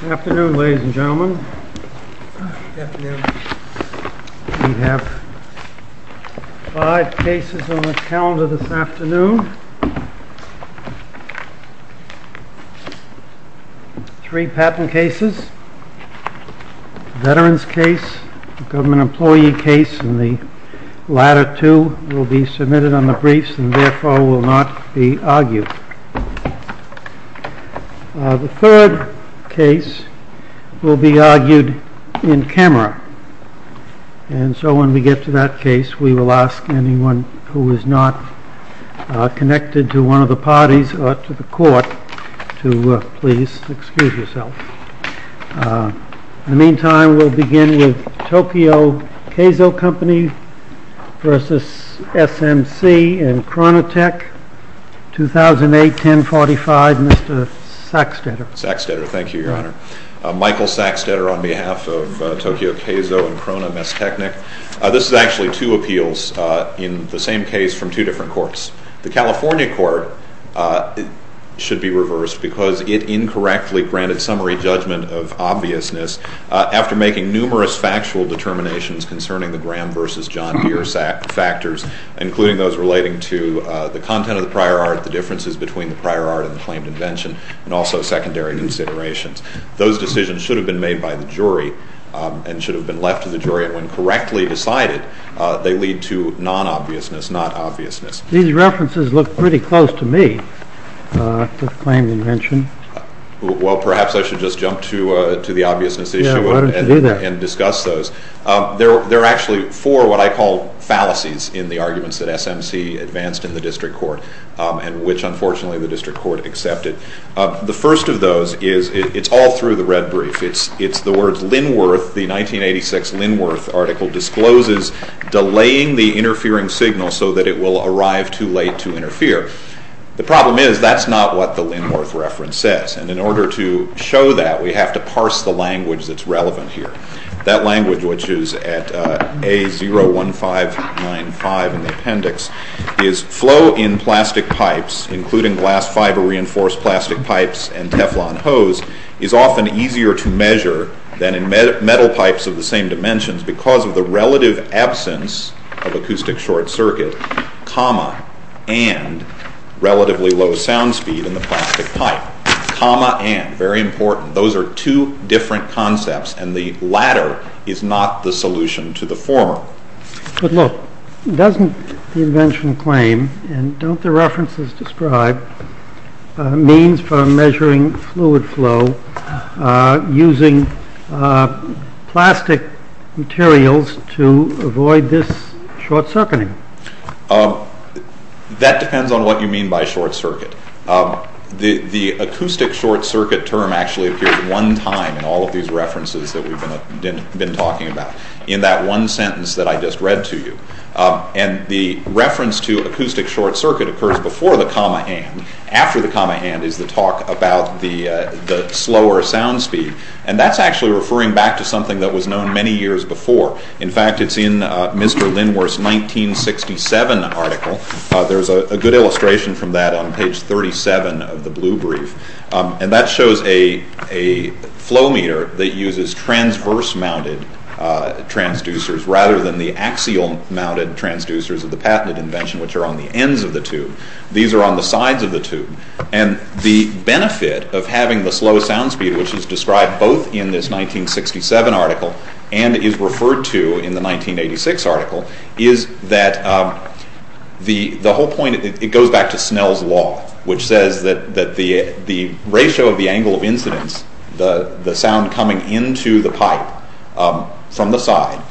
Good afternoon, ladies and gentlemen. We have five cases on the calendar this afternoon. Three patent cases, a veterans case, a government employee case, and the latter two will be submitted on the briefs and therefore will not be argued. The third case will be argued in camera and so when we get to that case we will ask anyone who is not connected to one of the parties or to the court to please excuse yourself. In the meantime, we will begin with Tokyo Keiso Company v. SMC and Chronotech, 2008-1045, Mr. Sackstetter. Sackstetter, thank you, Your Honor. Michael Sackstetter on behalf of Tokyo Keiso and Crona Messtechnik. This is actually two appeals in the same case from two different courts. The California court should be reversed because it incorrectly granted summary judgment of obviousness after making numerous factual determinations concerning the Graham v. John Deere factors including those relating to the content of the prior art, the differences between the prior art and the claimed invention, and also secondary considerations. Those decisions should have been made by the jury and should have been left to the jury and when correctly decided they lead to non-obviousness, not obviousness. These references look pretty close to me, the claimed invention. Well, perhaps I should just jump to the obviousness issue and discuss those. There are actually four what I call fallacies in the arguments that SMC advanced in the district court and which unfortunately the district court accepted. The first of those is, it's all through the red brief, it's the words Linworth, the 1986 Linworth article and it discloses delaying the interfering signal so that it will arrive too late to interfere. The problem is that's not what the Linworth reference says and in order to show that we have to parse the language that's relevant here. That language which is at A01595 in the appendix is, flow in plastic pipes including glass fiber reinforced plastic pipes and Teflon hose is often easier to measure than in metal pipes of the same dimensions because of the relative absence of acoustic short circuit, comma, and relatively low sound speed in the plastic pipe. Comma and, very important, those are two different concepts and the latter is not the solution to the former. But look, doesn't the invention claim and don't the references describe means for measuring fluid flow using plastic materials to avoid this short circuiting? That depends on what you mean by short circuit. The acoustic short circuit term actually appears one time in all of these references that we've been talking about in that one sentence that I just read to you. The reference to acoustic short circuit occurs before the comma and, after the comma and is the talk about the slower sound speed and that's actually referring back to something that was known many years before. In fact, it's in Mr. Linworth's 1967 article. There's a good illustration from that on page 37 of the blue brief and that shows a flow meter that uses transverse mounted transducers rather than the axial mounted transducers of the patented invention which are on the ends of the tube. These are on the sides of the tube and the benefit of having the slow sound speed which is described both in this 1967 article and is referred to in the 1986 article is that the whole point, it goes back to Snell's Law, which says that the ratio of the angle of incidence, the sound coming into the pipe from the side,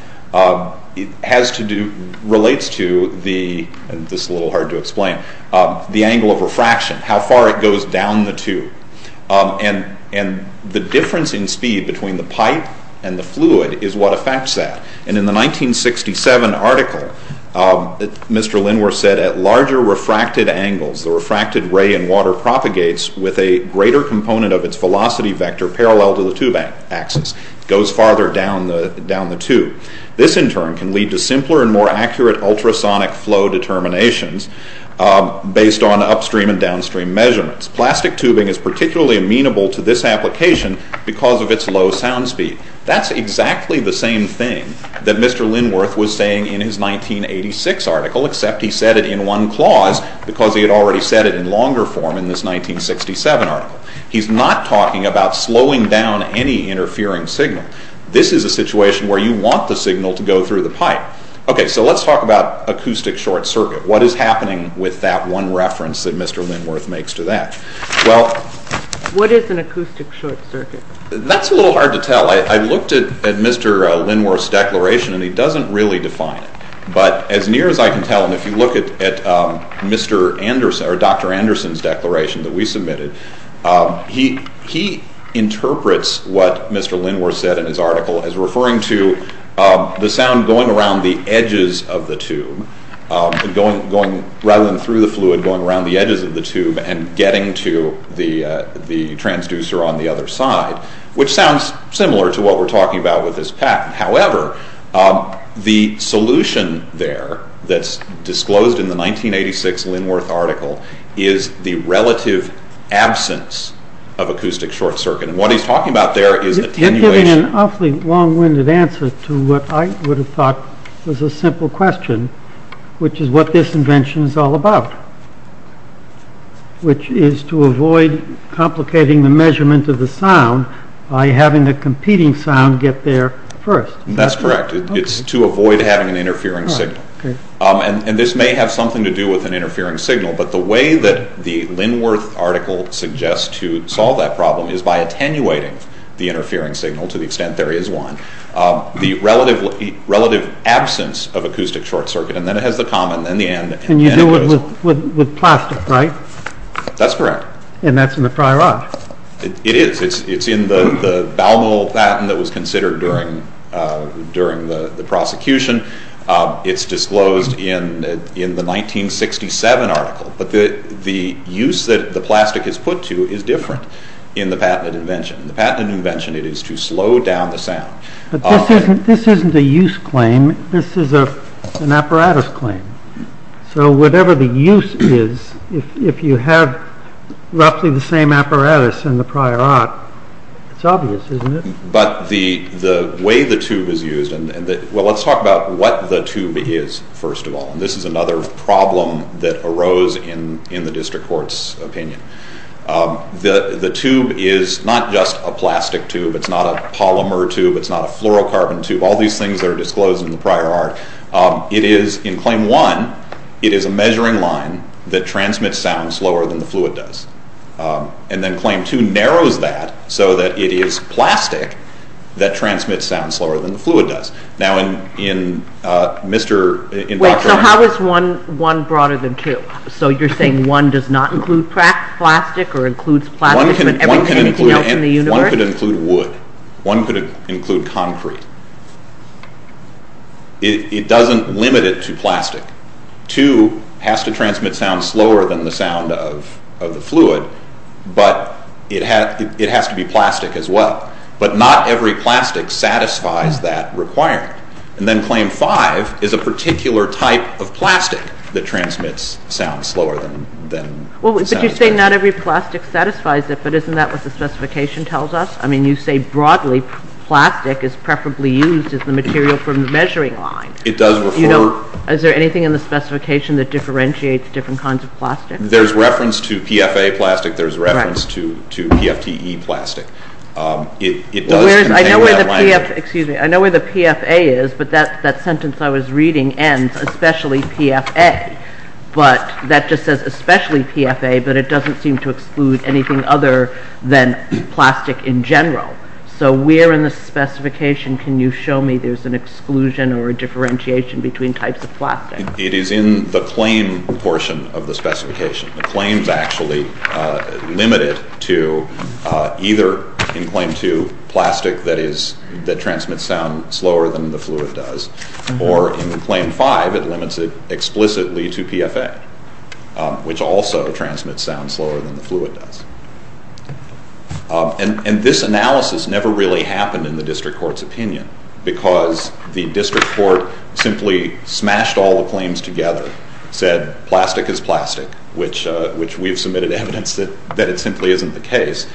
relates to the, this is a little hard to explain, the angle of refraction, how far it goes down the tube. The difference in speed between the pipe and the fluid is what affects that. In the 1967 article, Mr. Linworth said, at larger refracted angles, the refracted ray in water propagates with a greater component of its velocity vector parallel to the tube axis. It goes farther down the tube. This in turn can lead to simpler and more accurate ultrasonic flow determinations based on upstream and downstream measurements. Plastic tubing is particularly amenable to this application because of its low sound speed. That's exactly the same thing that Mr. Linworth was saying in his 1986 article except he said it in one clause because he had already said it in longer form in this 1967 article. He's not talking about slowing down any interfering signal. This is a situation where you want the signal to go through the pipe. Okay, so let's talk about acoustic short circuit. What is happening with that one reference that Mr. Linworth makes to that? Well... What is an acoustic short circuit? That's a little hard to tell. I looked at Mr. Linworth's declaration and he doesn't really define it. But as near as I can tell, and if you look at Dr. Anderson's declaration that we submitted, he interprets what Mr. Linworth said in his article as referring to the sound going around the edges of the tube, rather than through the fluid, going around the edges of the tube and getting to the transducer on the other side, which sounds similar to what we're talking about with this patent. However, the solution there that's disclosed in the 1986 Linworth article is the relative absence of acoustic short circuit. And what he's talking about there is attenuation... You're giving an awfully long-winded answer to what I would have thought was a simple question, which is what this invention is all about, which is to avoid complicating the measurement of the sound by having the competing sound get there first. That's correct. It's to avoid having an interfering signal. And this may have something to do with an interfering signal, but the way that the Linworth article suggests to solve that problem is by attenuating the interfering signal to the extent there is one, the relative absence of acoustic short circuit, and then it has the comma and then the and. And you do it with plastic, right? That's correct. And that's in the prior art. It is. It's in the Baumol patent that was considered during the prosecution. It's disclosed in the 1967 article. But the use that the plastic is put to is different in the patented invention. In the patented invention, it is to slow down the sound. But this isn't a use claim. This is an apparatus claim. So whatever the use is, if you have roughly the same apparatus in the prior art, it's obvious, isn't it? But the way the tube is used, well, let's talk about what the tube is first of all. And this is another problem that arose in the district court's opinion. The tube is not just a plastic tube. It's not a polymer tube. It's not a fluorocarbon tube. All these things are disclosed in the prior art. It is, in Claim 1, it is a measuring line that transmits sound slower than the fluid does. And then Claim 2 narrows that so that it is plastic that transmits sound slower than the fluid does. Now in Mr.— Wait, so how is 1 broader than 2? So you're saying 1 does not include plastic or includes plastic, but everything else in the universe? One could include wood. One could include concrete. It doesn't limit it to plastic. 2 has to transmit sound slower than the sound of the fluid, but it has to be plastic as well. But not every plastic satisfies that requirement. And then Claim 5 is a particular type of plastic that transmits sound slower than— But you say not every plastic satisfies it, but isn't that what the specification tells us? I mean, you say broadly plastic is preferably used as the material from the measuring line. It does refer— Is there anything in the specification that differentiates different kinds of plastic? There's reference to PFA plastic. There's reference to PFTE plastic. It does contain that language. Excuse me. I know where the PFA is, but that sentence I was reading ends, especially PFA. But that just says especially PFA, but it doesn't seem to exclude anything other than plastic in general. So where in the specification can you show me there's an exclusion or a differentiation between types of plastic? It is in the claim portion of the specification. The claim's actually limited to either, in Claim 2, plastic that transmits sound slower than the fluid does, or in Claim 5, it limits it explicitly to PFA, which also transmits sound slower than the fluid does. And this analysis never really happened in the district court's opinion because the district court simply smashed all the claims together, said plastic is plastic, which we have submitted evidence that it simply isn't the case,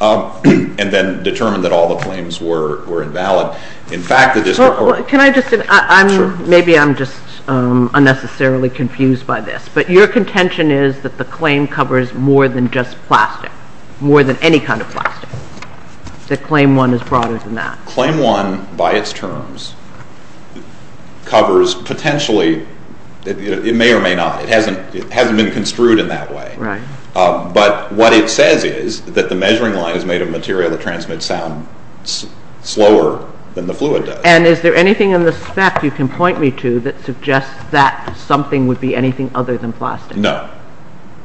and then determined that all the claims were invalid. Can I just, maybe I'm just unnecessarily confused by this, but your contention is that the claim covers more than just plastic, more than any kind of plastic, that Claim 1 is broader than that. Claim 1, by its terms, covers potentially, it may or may not, it hasn't been construed in that way. But what it says is that the measuring line is made of material that transmits sound slower than the fluid does. And is there anything in the spec you can point me to that suggests that something would be anything other than plastic? No.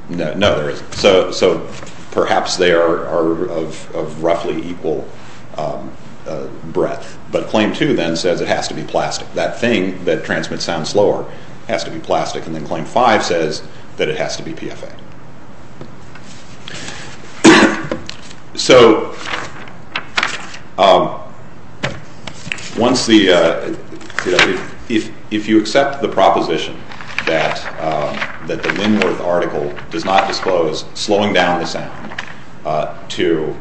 No, there isn't. So perhaps they are of roughly equal breadth. But Claim 2 then says it has to be plastic. That thing that transmits sound slower has to be plastic. And then Claim 5 says that it has to be PFA. So once the, if you accept the proposition that the Linworth article does not disclose slowing down the sound to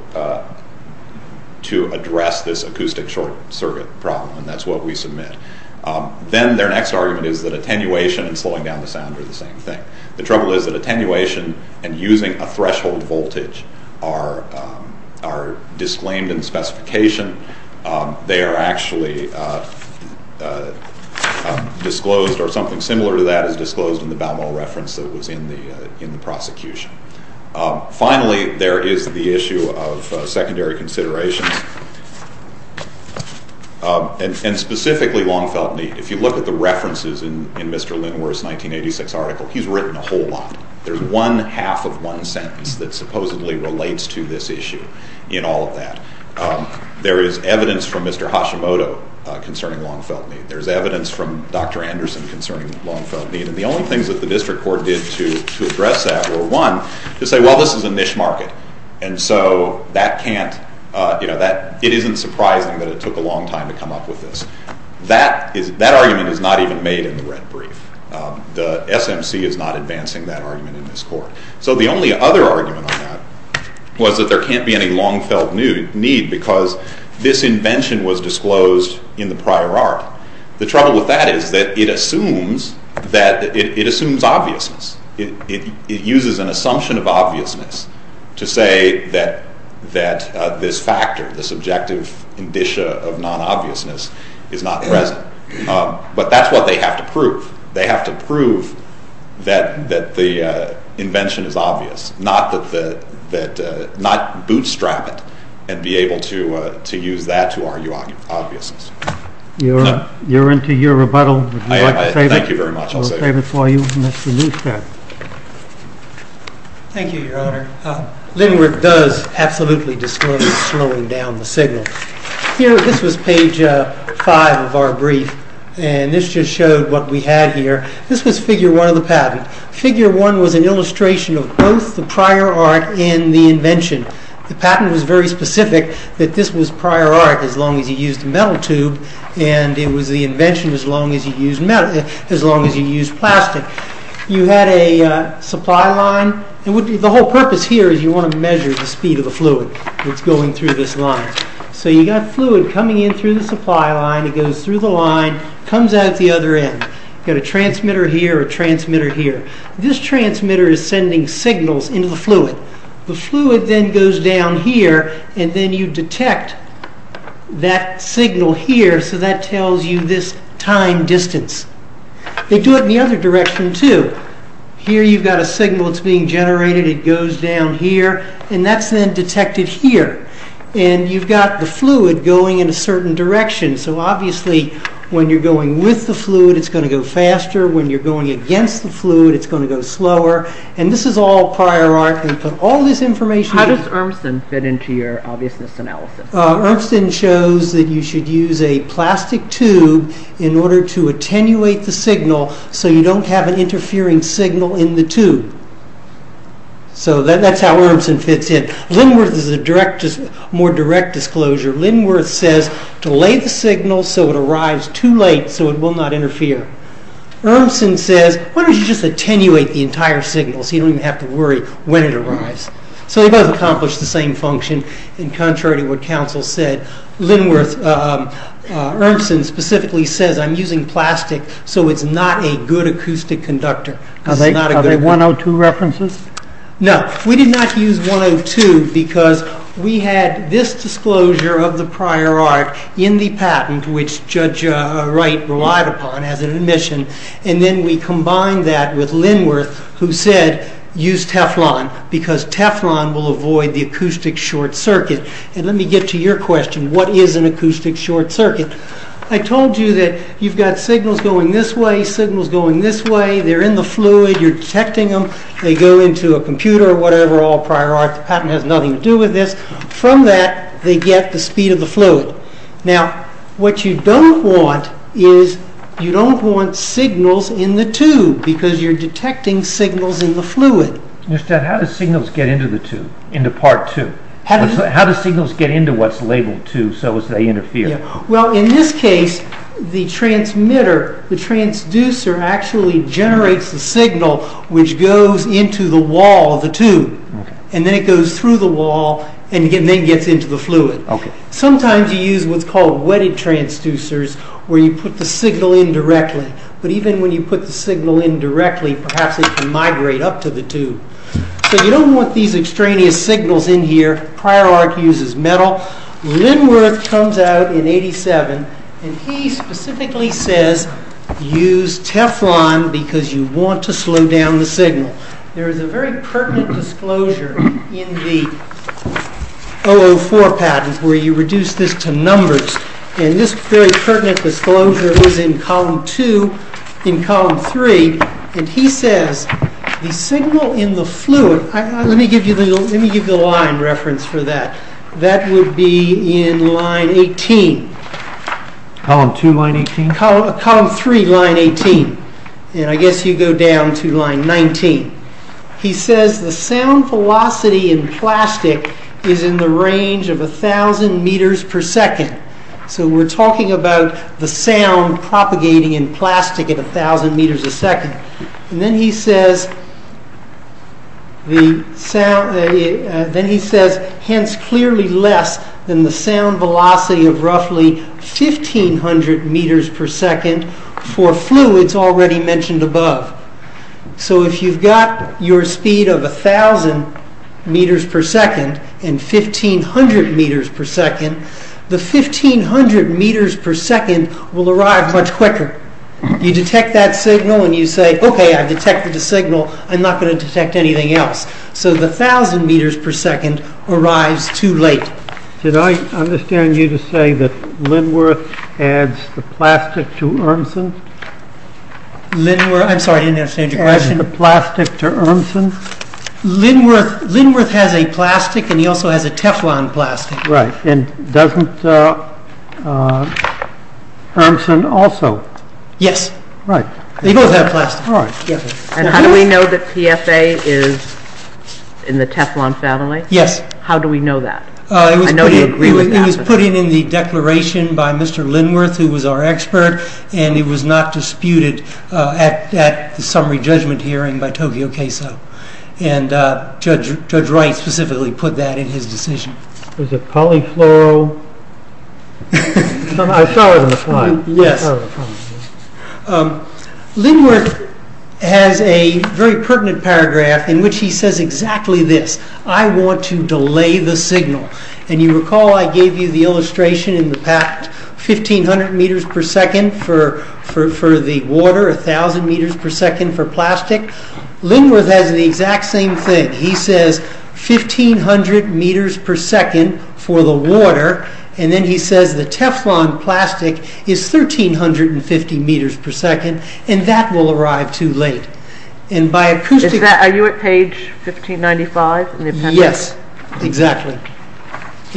address this acoustic short circuit problem, and that's what we submit, then their next argument is that attenuation and slowing down the sound are the same thing. The trouble is that attenuation and using a threshold voltage are disclaimed in the specification. They are actually disclosed, or something similar to that is disclosed in the Baumol reference that was in the prosecution. Finally, there is the issue of secondary considerations, and specifically long felt need. If you look at the references in Mr. Linworth's 1986 article, he's written a whole lot. There's one half of one sentence that supposedly relates to this issue in all of that. There is evidence from Mr. Hashimoto concerning long felt need. There's evidence from Dr. Anderson concerning long felt need. And the only things that the district court did to address that were, one, to say, well, this is a niche market. And so that can't, you know, it isn't surprising that it took a long time to come up with this. That argument is not even made in the red brief. The SMC is not advancing that argument in this court. So the only other argument on that was that there can't be any long felt need because this invention was disclosed in the prior art. The trouble with that is that it assumes obviousness. It uses an assumption of obviousness to say that this factor, this objective indicia of non-obviousness is not present. But that's what they have to prove. They have to prove that the invention is obvious, not bootstrap it and be able to use that to argue obviousness. You're into your rebuttal. Would you like to save it? Thank you very much. I'll save it for you. Mr. Neustadt. Thank you, Your Honor. Lindbergh does absolutely disclose slowing down the signal. Here, this was page five of our brief. And this just showed what we had here. This was figure one of the patent. Figure one was an illustration of both the prior art and the invention. The patent was very specific that this was prior art as long as you used a metal tube. And it was the invention as long as you used plastic. You had a supply line. The whole purpose here is you want to measure the speed of the fluid that's going through this line. So you've got fluid coming in through the supply line. It goes through the line, comes out the other end. You've got a transmitter here, a transmitter here. This transmitter is sending signals into the fluid. The fluid then goes down here. And then you detect that signal here. So that tells you this time distance. They do it in the other direction, too. Here you've got a signal that's being generated. It goes down here. And that's then detected here. And you've got the fluid going in a certain direction. So obviously when you're going with the fluid, it's going to go faster. When you're going against the fluid, it's going to go slower. And this is all prior art. We put all this information in. How does Urmson fit into your obviousness analysis? Urmson shows that you should use a plastic tube in order to attenuate the signal so you don't have an interfering signal in the tube. So that's how Urmson fits in. Linworth is a more direct disclosure. Linworth says delay the signal so it arrives too late so it will not interfere. Urmson says why don't you just attenuate the entire signal so you don't even have to worry when it arrives. So they both accomplish the same function. And contrary to what counsel said, Urmson specifically says I'm using plastic so it's not a good acoustic conductor. Are they 102 references? No. We did not use 102 because we had this disclosure of the prior art in the patent which Judge Wright relied upon as an admission. And then we combined that with Linworth who said use Teflon because Teflon will avoid the acoustic short circuit. And let me get to your question. What is an acoustic short circuit? I told you that you've got signals going this way, signals going this way. They're in the fluid. You're detecting them. They go into a computer or whatever, all prior art. The patent has nothing to do with this. From that they get the speed of the fluid. Now what you don't want is you don't want signals in the tube because you're detecting signals in the fluid. How do signals get into the tube, into part two? How do signals get into what's labeled tube so as they interfere? Well, in this case, the transmitter, the transducer, actually generates the signal which goes into the wall of the tube. And then it goes through the wall and then gets into the fluid. Sometimes you use what's called wetted transducers where you put the signal in directly. But even when you put the signal in directly, perhaps it can migrate up to the tube. So you don't want these extraneous signals in here. Prior art uses metal. Linworth comes out in 87 and he specifically says use Teflon because you want to slow down the signal. There is a very pertinent disclosure in the 004 patent where you reduce this to numbers. And this very pertinent disclosure was in column 2 in column 3. And he says the signal in the fluid... Let me give you the line reference for that. That would be in line 18. Column 2, line 18? Column 3, line 18. And I guess you go down to line 19. He says the sound velocity in plastic is in the range of 1,000 meters per second. So we're talking about the sound propagating in plastic at 1,000 meters a second. And then he says, hence clearly less than the sound velocity of roughly 1,500 meters per second for fluids already mentioned above. So if you've got your speed of 1,000 meters per second and 1,500 meters per second, the 1,500 meters per second will arrive much quicker. You detect that signal and you say, OK, I've detected the signal. I'm not going to detect anything else. So the 1,000 meters per second arrives too late. Did I understand you to say that Linworth adds the plastic to Urmson? I'm sorry, I didn't understand your question. Adds the plastic to Urmson? Linworth has a plastic and he also has a Teflon plastic. Right. And doesn't Urmson also? Yes. Right. They both have plastic. All right. And how do we know that PFA is in the Teflon family? Yes. How do we know that? I know you agree with that. It was put in in the declaration by Mr. Linworth, who was our expert, and it was not disputed at the summary judgment hearing by Tokyo KSO. And Judge Wright specifically put that in his decision. Was it polyfluoro? I saw it on the slide. Yes. Linworth has a very pertinent paragraph in which he says exactly this. I want to delay the signal. And you recall I gave you the illustration in the past, 1,500 meters per second for the water, 1,000 meters per second for plastic. Linworth has the exact same thing. He says 1,500 meters per second for the water, and then he says the Teflon plastic is 1,350 meters per second, and that will arrive too late. Are you at page 1595 in the appendix? Yes, exactly.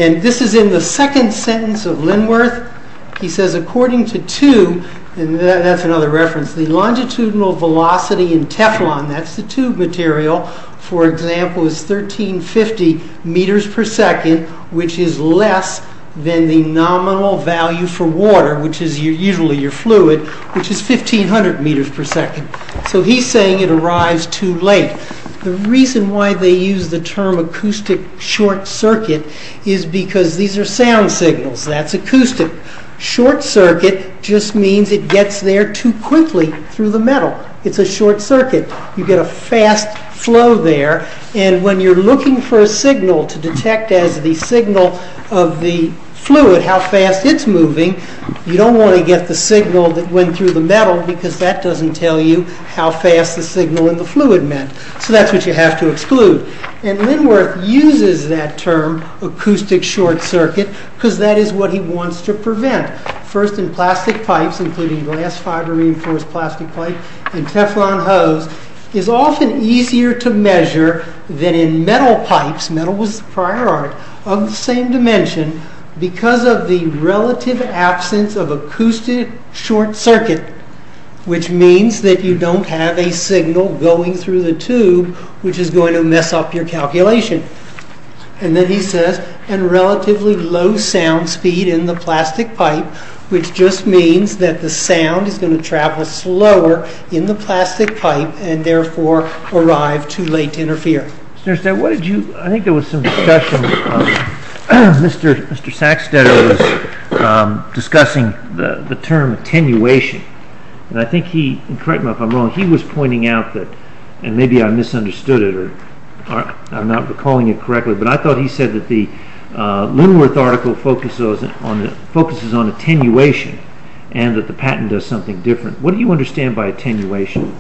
And this is in the second sentence of Linworth. He says, according to two, and that's another reference, the longitudinal velocity in Teflon, that's the tube material, for example, is 1,350 meters per second, which is less than the nominal value for water, which is usually your fluid, which is 1,500 meters per second. So he's saying it arrives too late. The reason why they use the term acoustic short circuit is because these are sound signals. That's acoustic. Short circuit just means it gets there too quickly through the metal. It's a short circuit. You get a fast flow there, and when you're looking for a signal to detect as the signal of the fluid how fast it's moving, you don't want to get the signal that went through the metal because that doesn't tell you how fast the signal in the fluid meant. So that's what you have to exclude. And Linworth uses that term, acoustic short circuit, because that is what he wants to prevent. First, in plastic pipes, including glass fiber reinforced plastic pipe and Teflon hose, it's often easier to measure than in metal pipes, metal was the prior art, of the same dimension, because of the relative absence of acoustic short circuit, which means that you don't have a signal going through the tube, which is going to mess up your calculation. And then he says, and relatively low sound speed in the plastic pipe, which just means that the sound is going to travel slower in the plastic pipe and therefore arrive too late to interfere. Mr. Sackstetter, I think there was some discussion, Mr. Sackstetter was discussing the term attenuation, and I think he, correct me if I'm wrong, he was pointing out that, and maybe I misunderstood it, I'm not recalling it correctly, but I thought he said that the Linworth article focuses on attenuation and that the patent does something different. What do you understand by attenuation?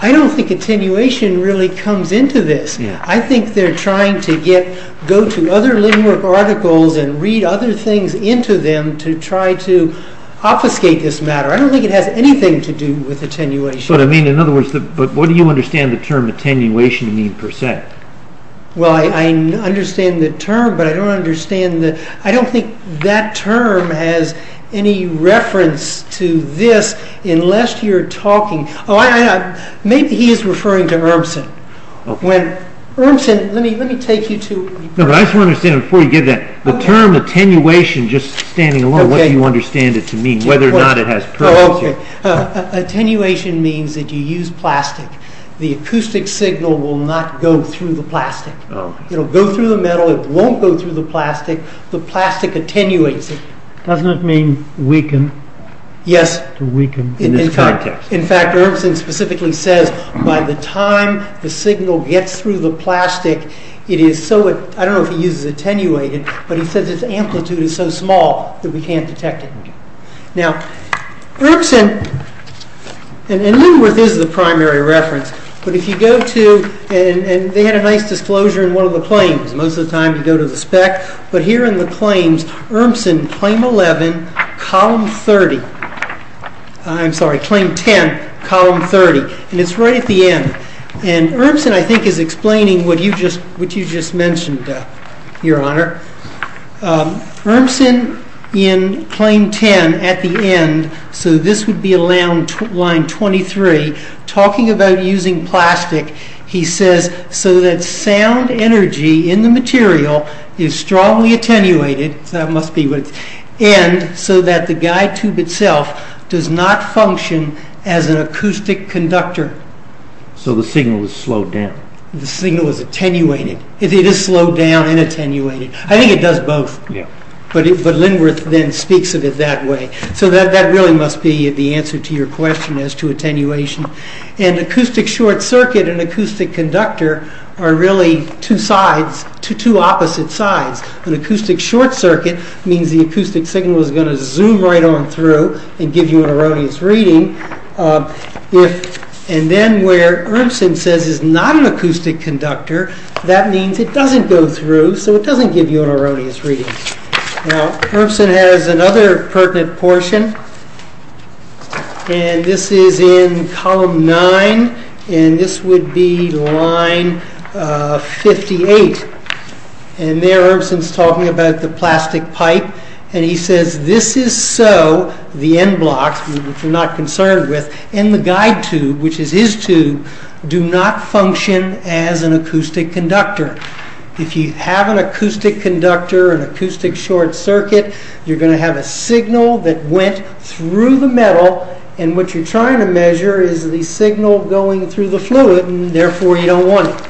I don't think attenuation really comes into this. I think they're trying to get, go to other Linworth articles and read other things into them to try to obfuscate this matter. I don't think it has anything to do with attenuation. But I mean, in other words, but what do you understand the term attenuation in percent? Well, I understand the term, but I don't understand the, I don't think that term has any reference to this, unless you're talking, maybe he's referring to Urmson. When, Urmson, let me take you to. No, but I just want to understand before you give that, the term attenuation, just standing alone, what do you understand it to mean? Whether or not it has purpose here. Oh, okay. Attenuation means that you use plastic. The acoustic signal will not go through the plastic. It'll go through the metal, it won't go through the plastic, the plastic attenuates it. Doesn't it mean weaken? Yes. To weaken in this context. In fact, Urmson specifically says, by the time the signal gets through the plastic, it is so, I don't know if he uses attenuated, but he says its amplitude is so small that we can't detect it. Now, Urmson, and Linworth is the primary reference, but if you go to, and they had a nice disclosure in one of the claims, most of the time you go to the spec, but here in the claims, Urmson, claim 11, column 30. I'm sorry, claim 10, column 30. And it's right at the end. And Urmson, I think, is explaining what you just mentioned, Your Honor. Urmson, in claim 10, at the end, so this would be line 23, talking about using plastic, he says, so that sound energy in the material is strongly attenuated, so that must be what it's, and so that the guide tube itself does not function as an acoustic conductor. So the signal is slowed down. The signal is attenuated. It is slowed down and attenuated. I think it does both. Yeah. But Linworth then speaks of it that way. So that really must be the answer to your question as to attenuation. And acoustic short circuit and acoustic conductor are really two sides, two opposite sides. An acoustic short circuit means the acoustic signal is going to zoom right on through and give you an erroneous reading. And then where Urmson says it's not an acoustic conductor, that means it doesn't go through, so it doesn't give you an erroneous reading. Now, Urmson has another pertinent portion, and this is in Column 9, and this would be Line 58. And there, Urmson's talking about the plastic pipe, and he says, this is so, the end blocks, which we're not concerned with, and the guide tube, which is his tube, do not function as an acoustic conductor. If you have an acoustic conductor, an acoustic short circuit, you're going to have a signal that went through the metal, and what you're trying to measure is the signal going through the fluid, and therefore, you don't want it.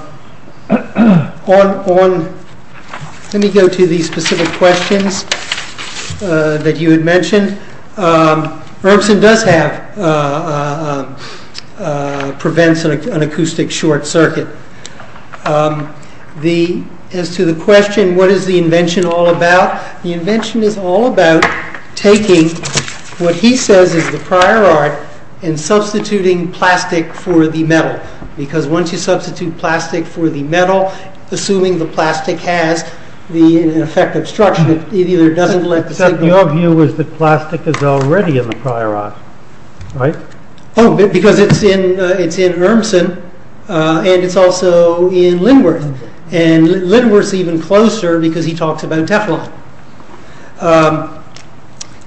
Now, let me go to these specific questions that you had mentioned. Urmson does have, prevents an acoustic short circuit. As to the question, what is the invention all about? The invention is all about taking what he says is the prior art and substituting plastic for the metal, because once you substitute plastic for the metal, assuming the plastic has the effective structure, Except your view is that plastic is already in the prior art, right? Oh, because it's in Urmson, and it's also in Linworth, and Linworth's even closer because he talks about Teflon.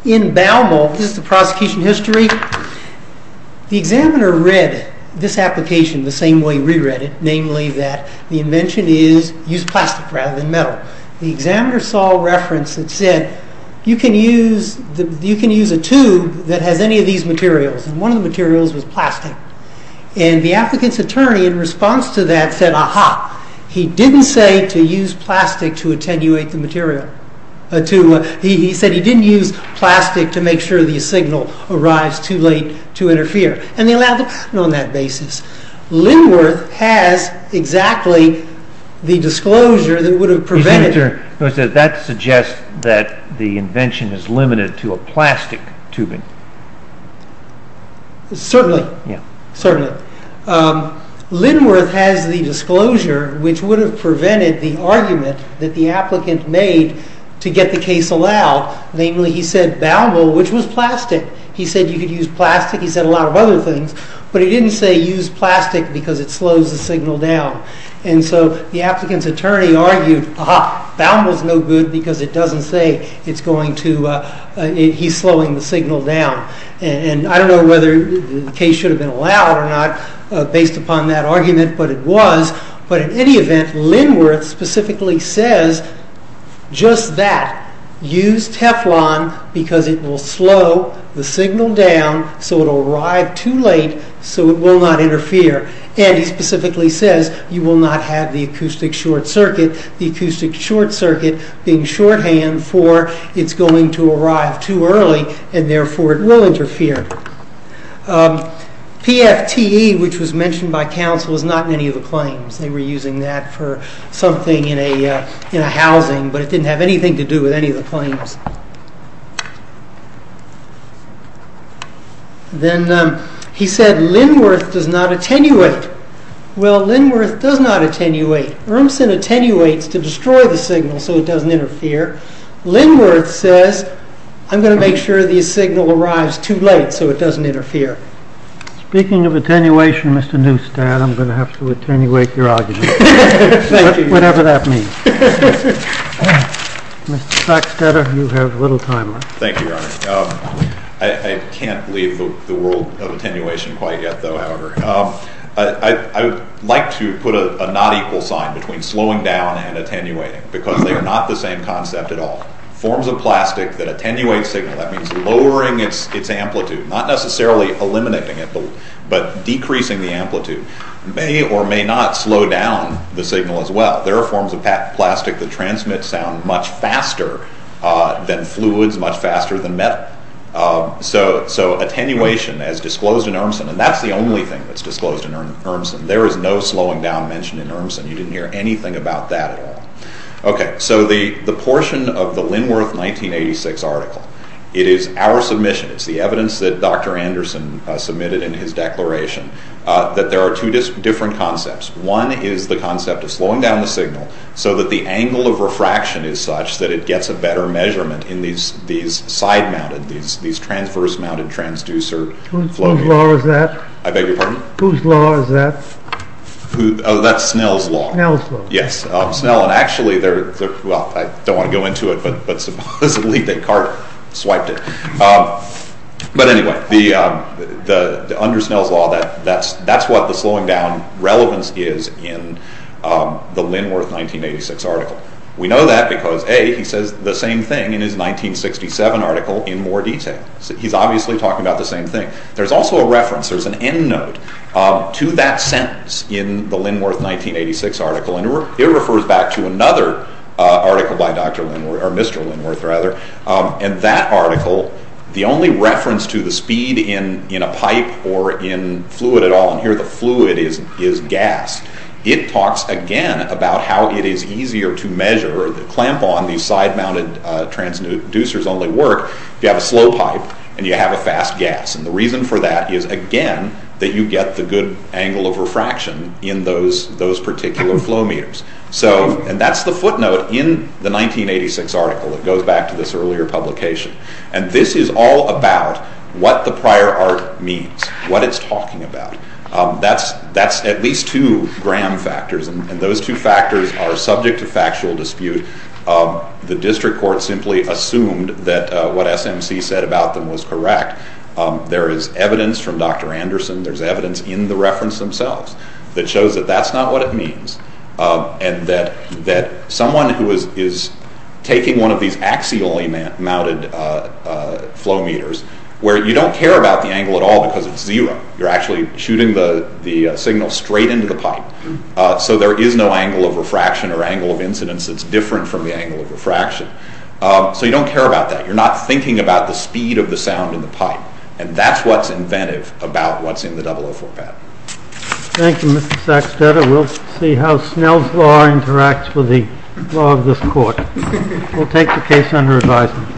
In Baumol, this is the prosecution history, the examiner read this application the same way we read it, the examiner saw a reference that said, you can use a tube that has any of these materials, and one of the materials was plastic, and the applicant's attorney in response to that said, aha, he didn't say to use plastic to attenuate the material, he said he didn't use plastic to make sure the signal arrives too late to interfere, and they allowed the patent on that basis. Linworth has exactly the disclosure that would have prevented... That suggests that the invention is limited to a plastic tubing. Certainly, certainly. Linworth has the disclosure which would have prevented the argument that the applicant made to get the case allowed, namely he said Baumol, which was plastic, he said you could use plastic, he said a lot of other things, but he didn't say use plastic because it slows the signal down. And so the applicant's attorney argued, aha, Baumol's no good because it doesn't say it's going to... he's slowing the signal down. And I don't know whether the case should have been allowed or not based upon that argument, but it was. But in any event, Linworth specifically says just that, use Teflon because it will slow the signal down so it will arrive too late so it will not interfere. And he specifically says you will not have the acoustic short circuit, the acoustic short circuit being shorthand for it's going to arrive too early and therefore it will interfere. PFTE, which was mentioned by counsel, is not in any of the claims. They were using that for something in a housing, but it didn't have anything to do with any of the claims. Then he said Linworth does not attenuate. Well, Linworth does not attenuate. Urmson attenuates to destroy the signal so it doesn't interfere. Linworth says I'm going to make sure the signal arrives too late so it doesn't interfere. Speaking of attenuation, Mr. Neustadt, I'm going to have to attenuate your argument. Whatever that means. Mr. Sacksteder, you have a little time left. Thank you, Your Honor. I can't leave the world of attenuation quite yet, however. I would like to put a not equal sign between slowing down and attenuating because they are not the same concept at all. Forms of plastic that attenuate signal, that means lowering its amplitude, not necessarily eliminating it, but decreasing the amplitude, may or may not slow down the signal as well. There are forms of plastic that transmit sound much faster than fluids, much faster than metal. So attenuation as disclosed in Urmson, and that's the only thing that's disclosed in Urmson. There is no slowing down mentioned in Urmson. You didn't hear anything about that at all. So the portion of the Linworth 1986 article, it is our submission, it's the evidence that Dr. Anderson submitted in his declaration, that there are two different concepts. One is the concept of slowing down the signal so that the angle of refraction is such that it gets a better measurement in these side-mounted, these transverse-mounted transducer flow units. Whose law is that? I beg your pardon? Whose law is that? That's Snell's law. Snell's law. Yes, Snell. And actually, well, I don't want to go into it, but supposedly Descartes swiped it. But anyway, under Snell's law, that's what the slowing down relevance is in the Linworth 1986 article. We know that because, A, he says the same thing in his 1967 article in more detail. He's obviously talking about the same thing. There's also a reference. There's an end note to that sentence in the Linworth 1986 article, and it refers back to another article by Dr. Linworth, or Mr. Linworth, rather, and that article, the only reference to the speed in a pipe or in fluid at all, and here the fluid is gas, it talks again about how it is easier to measure the clamp-on, these side-mounted transducers only work, if you have a slow pipe and you have a fast gas. And the reason for that is, again, that you get the good angle of refraction in those particular flow meters. And that's the footnote in the 1986 article that goes back to this earlier publication. And this is all about what the prior art means, what it's talking about. That's at least two Graham factors, and those two factors are subject to factual dispute. The district court simply assumed that what SMC said about them was correct. There is evidence from Dr. Anderson. There's evidence in the reference themselves that shows that that's not what it means, and that someone who is taking one of these axially-mounted flow meters, where you don't care about the angle at all because it's zero, you're actually shooting the signal straight into the pipe, so there is no angle of refraction or angle of incidence that's different from the angle of refraction. So you don't care about that. You're not thinking about the speed of the sound in the pipe, and that's what's inventive about what's in the 004 pad. Thank you, Mr. Sackstetter. We'll see how Snell's law interacts with the law of this court. We'll take the case under advisement.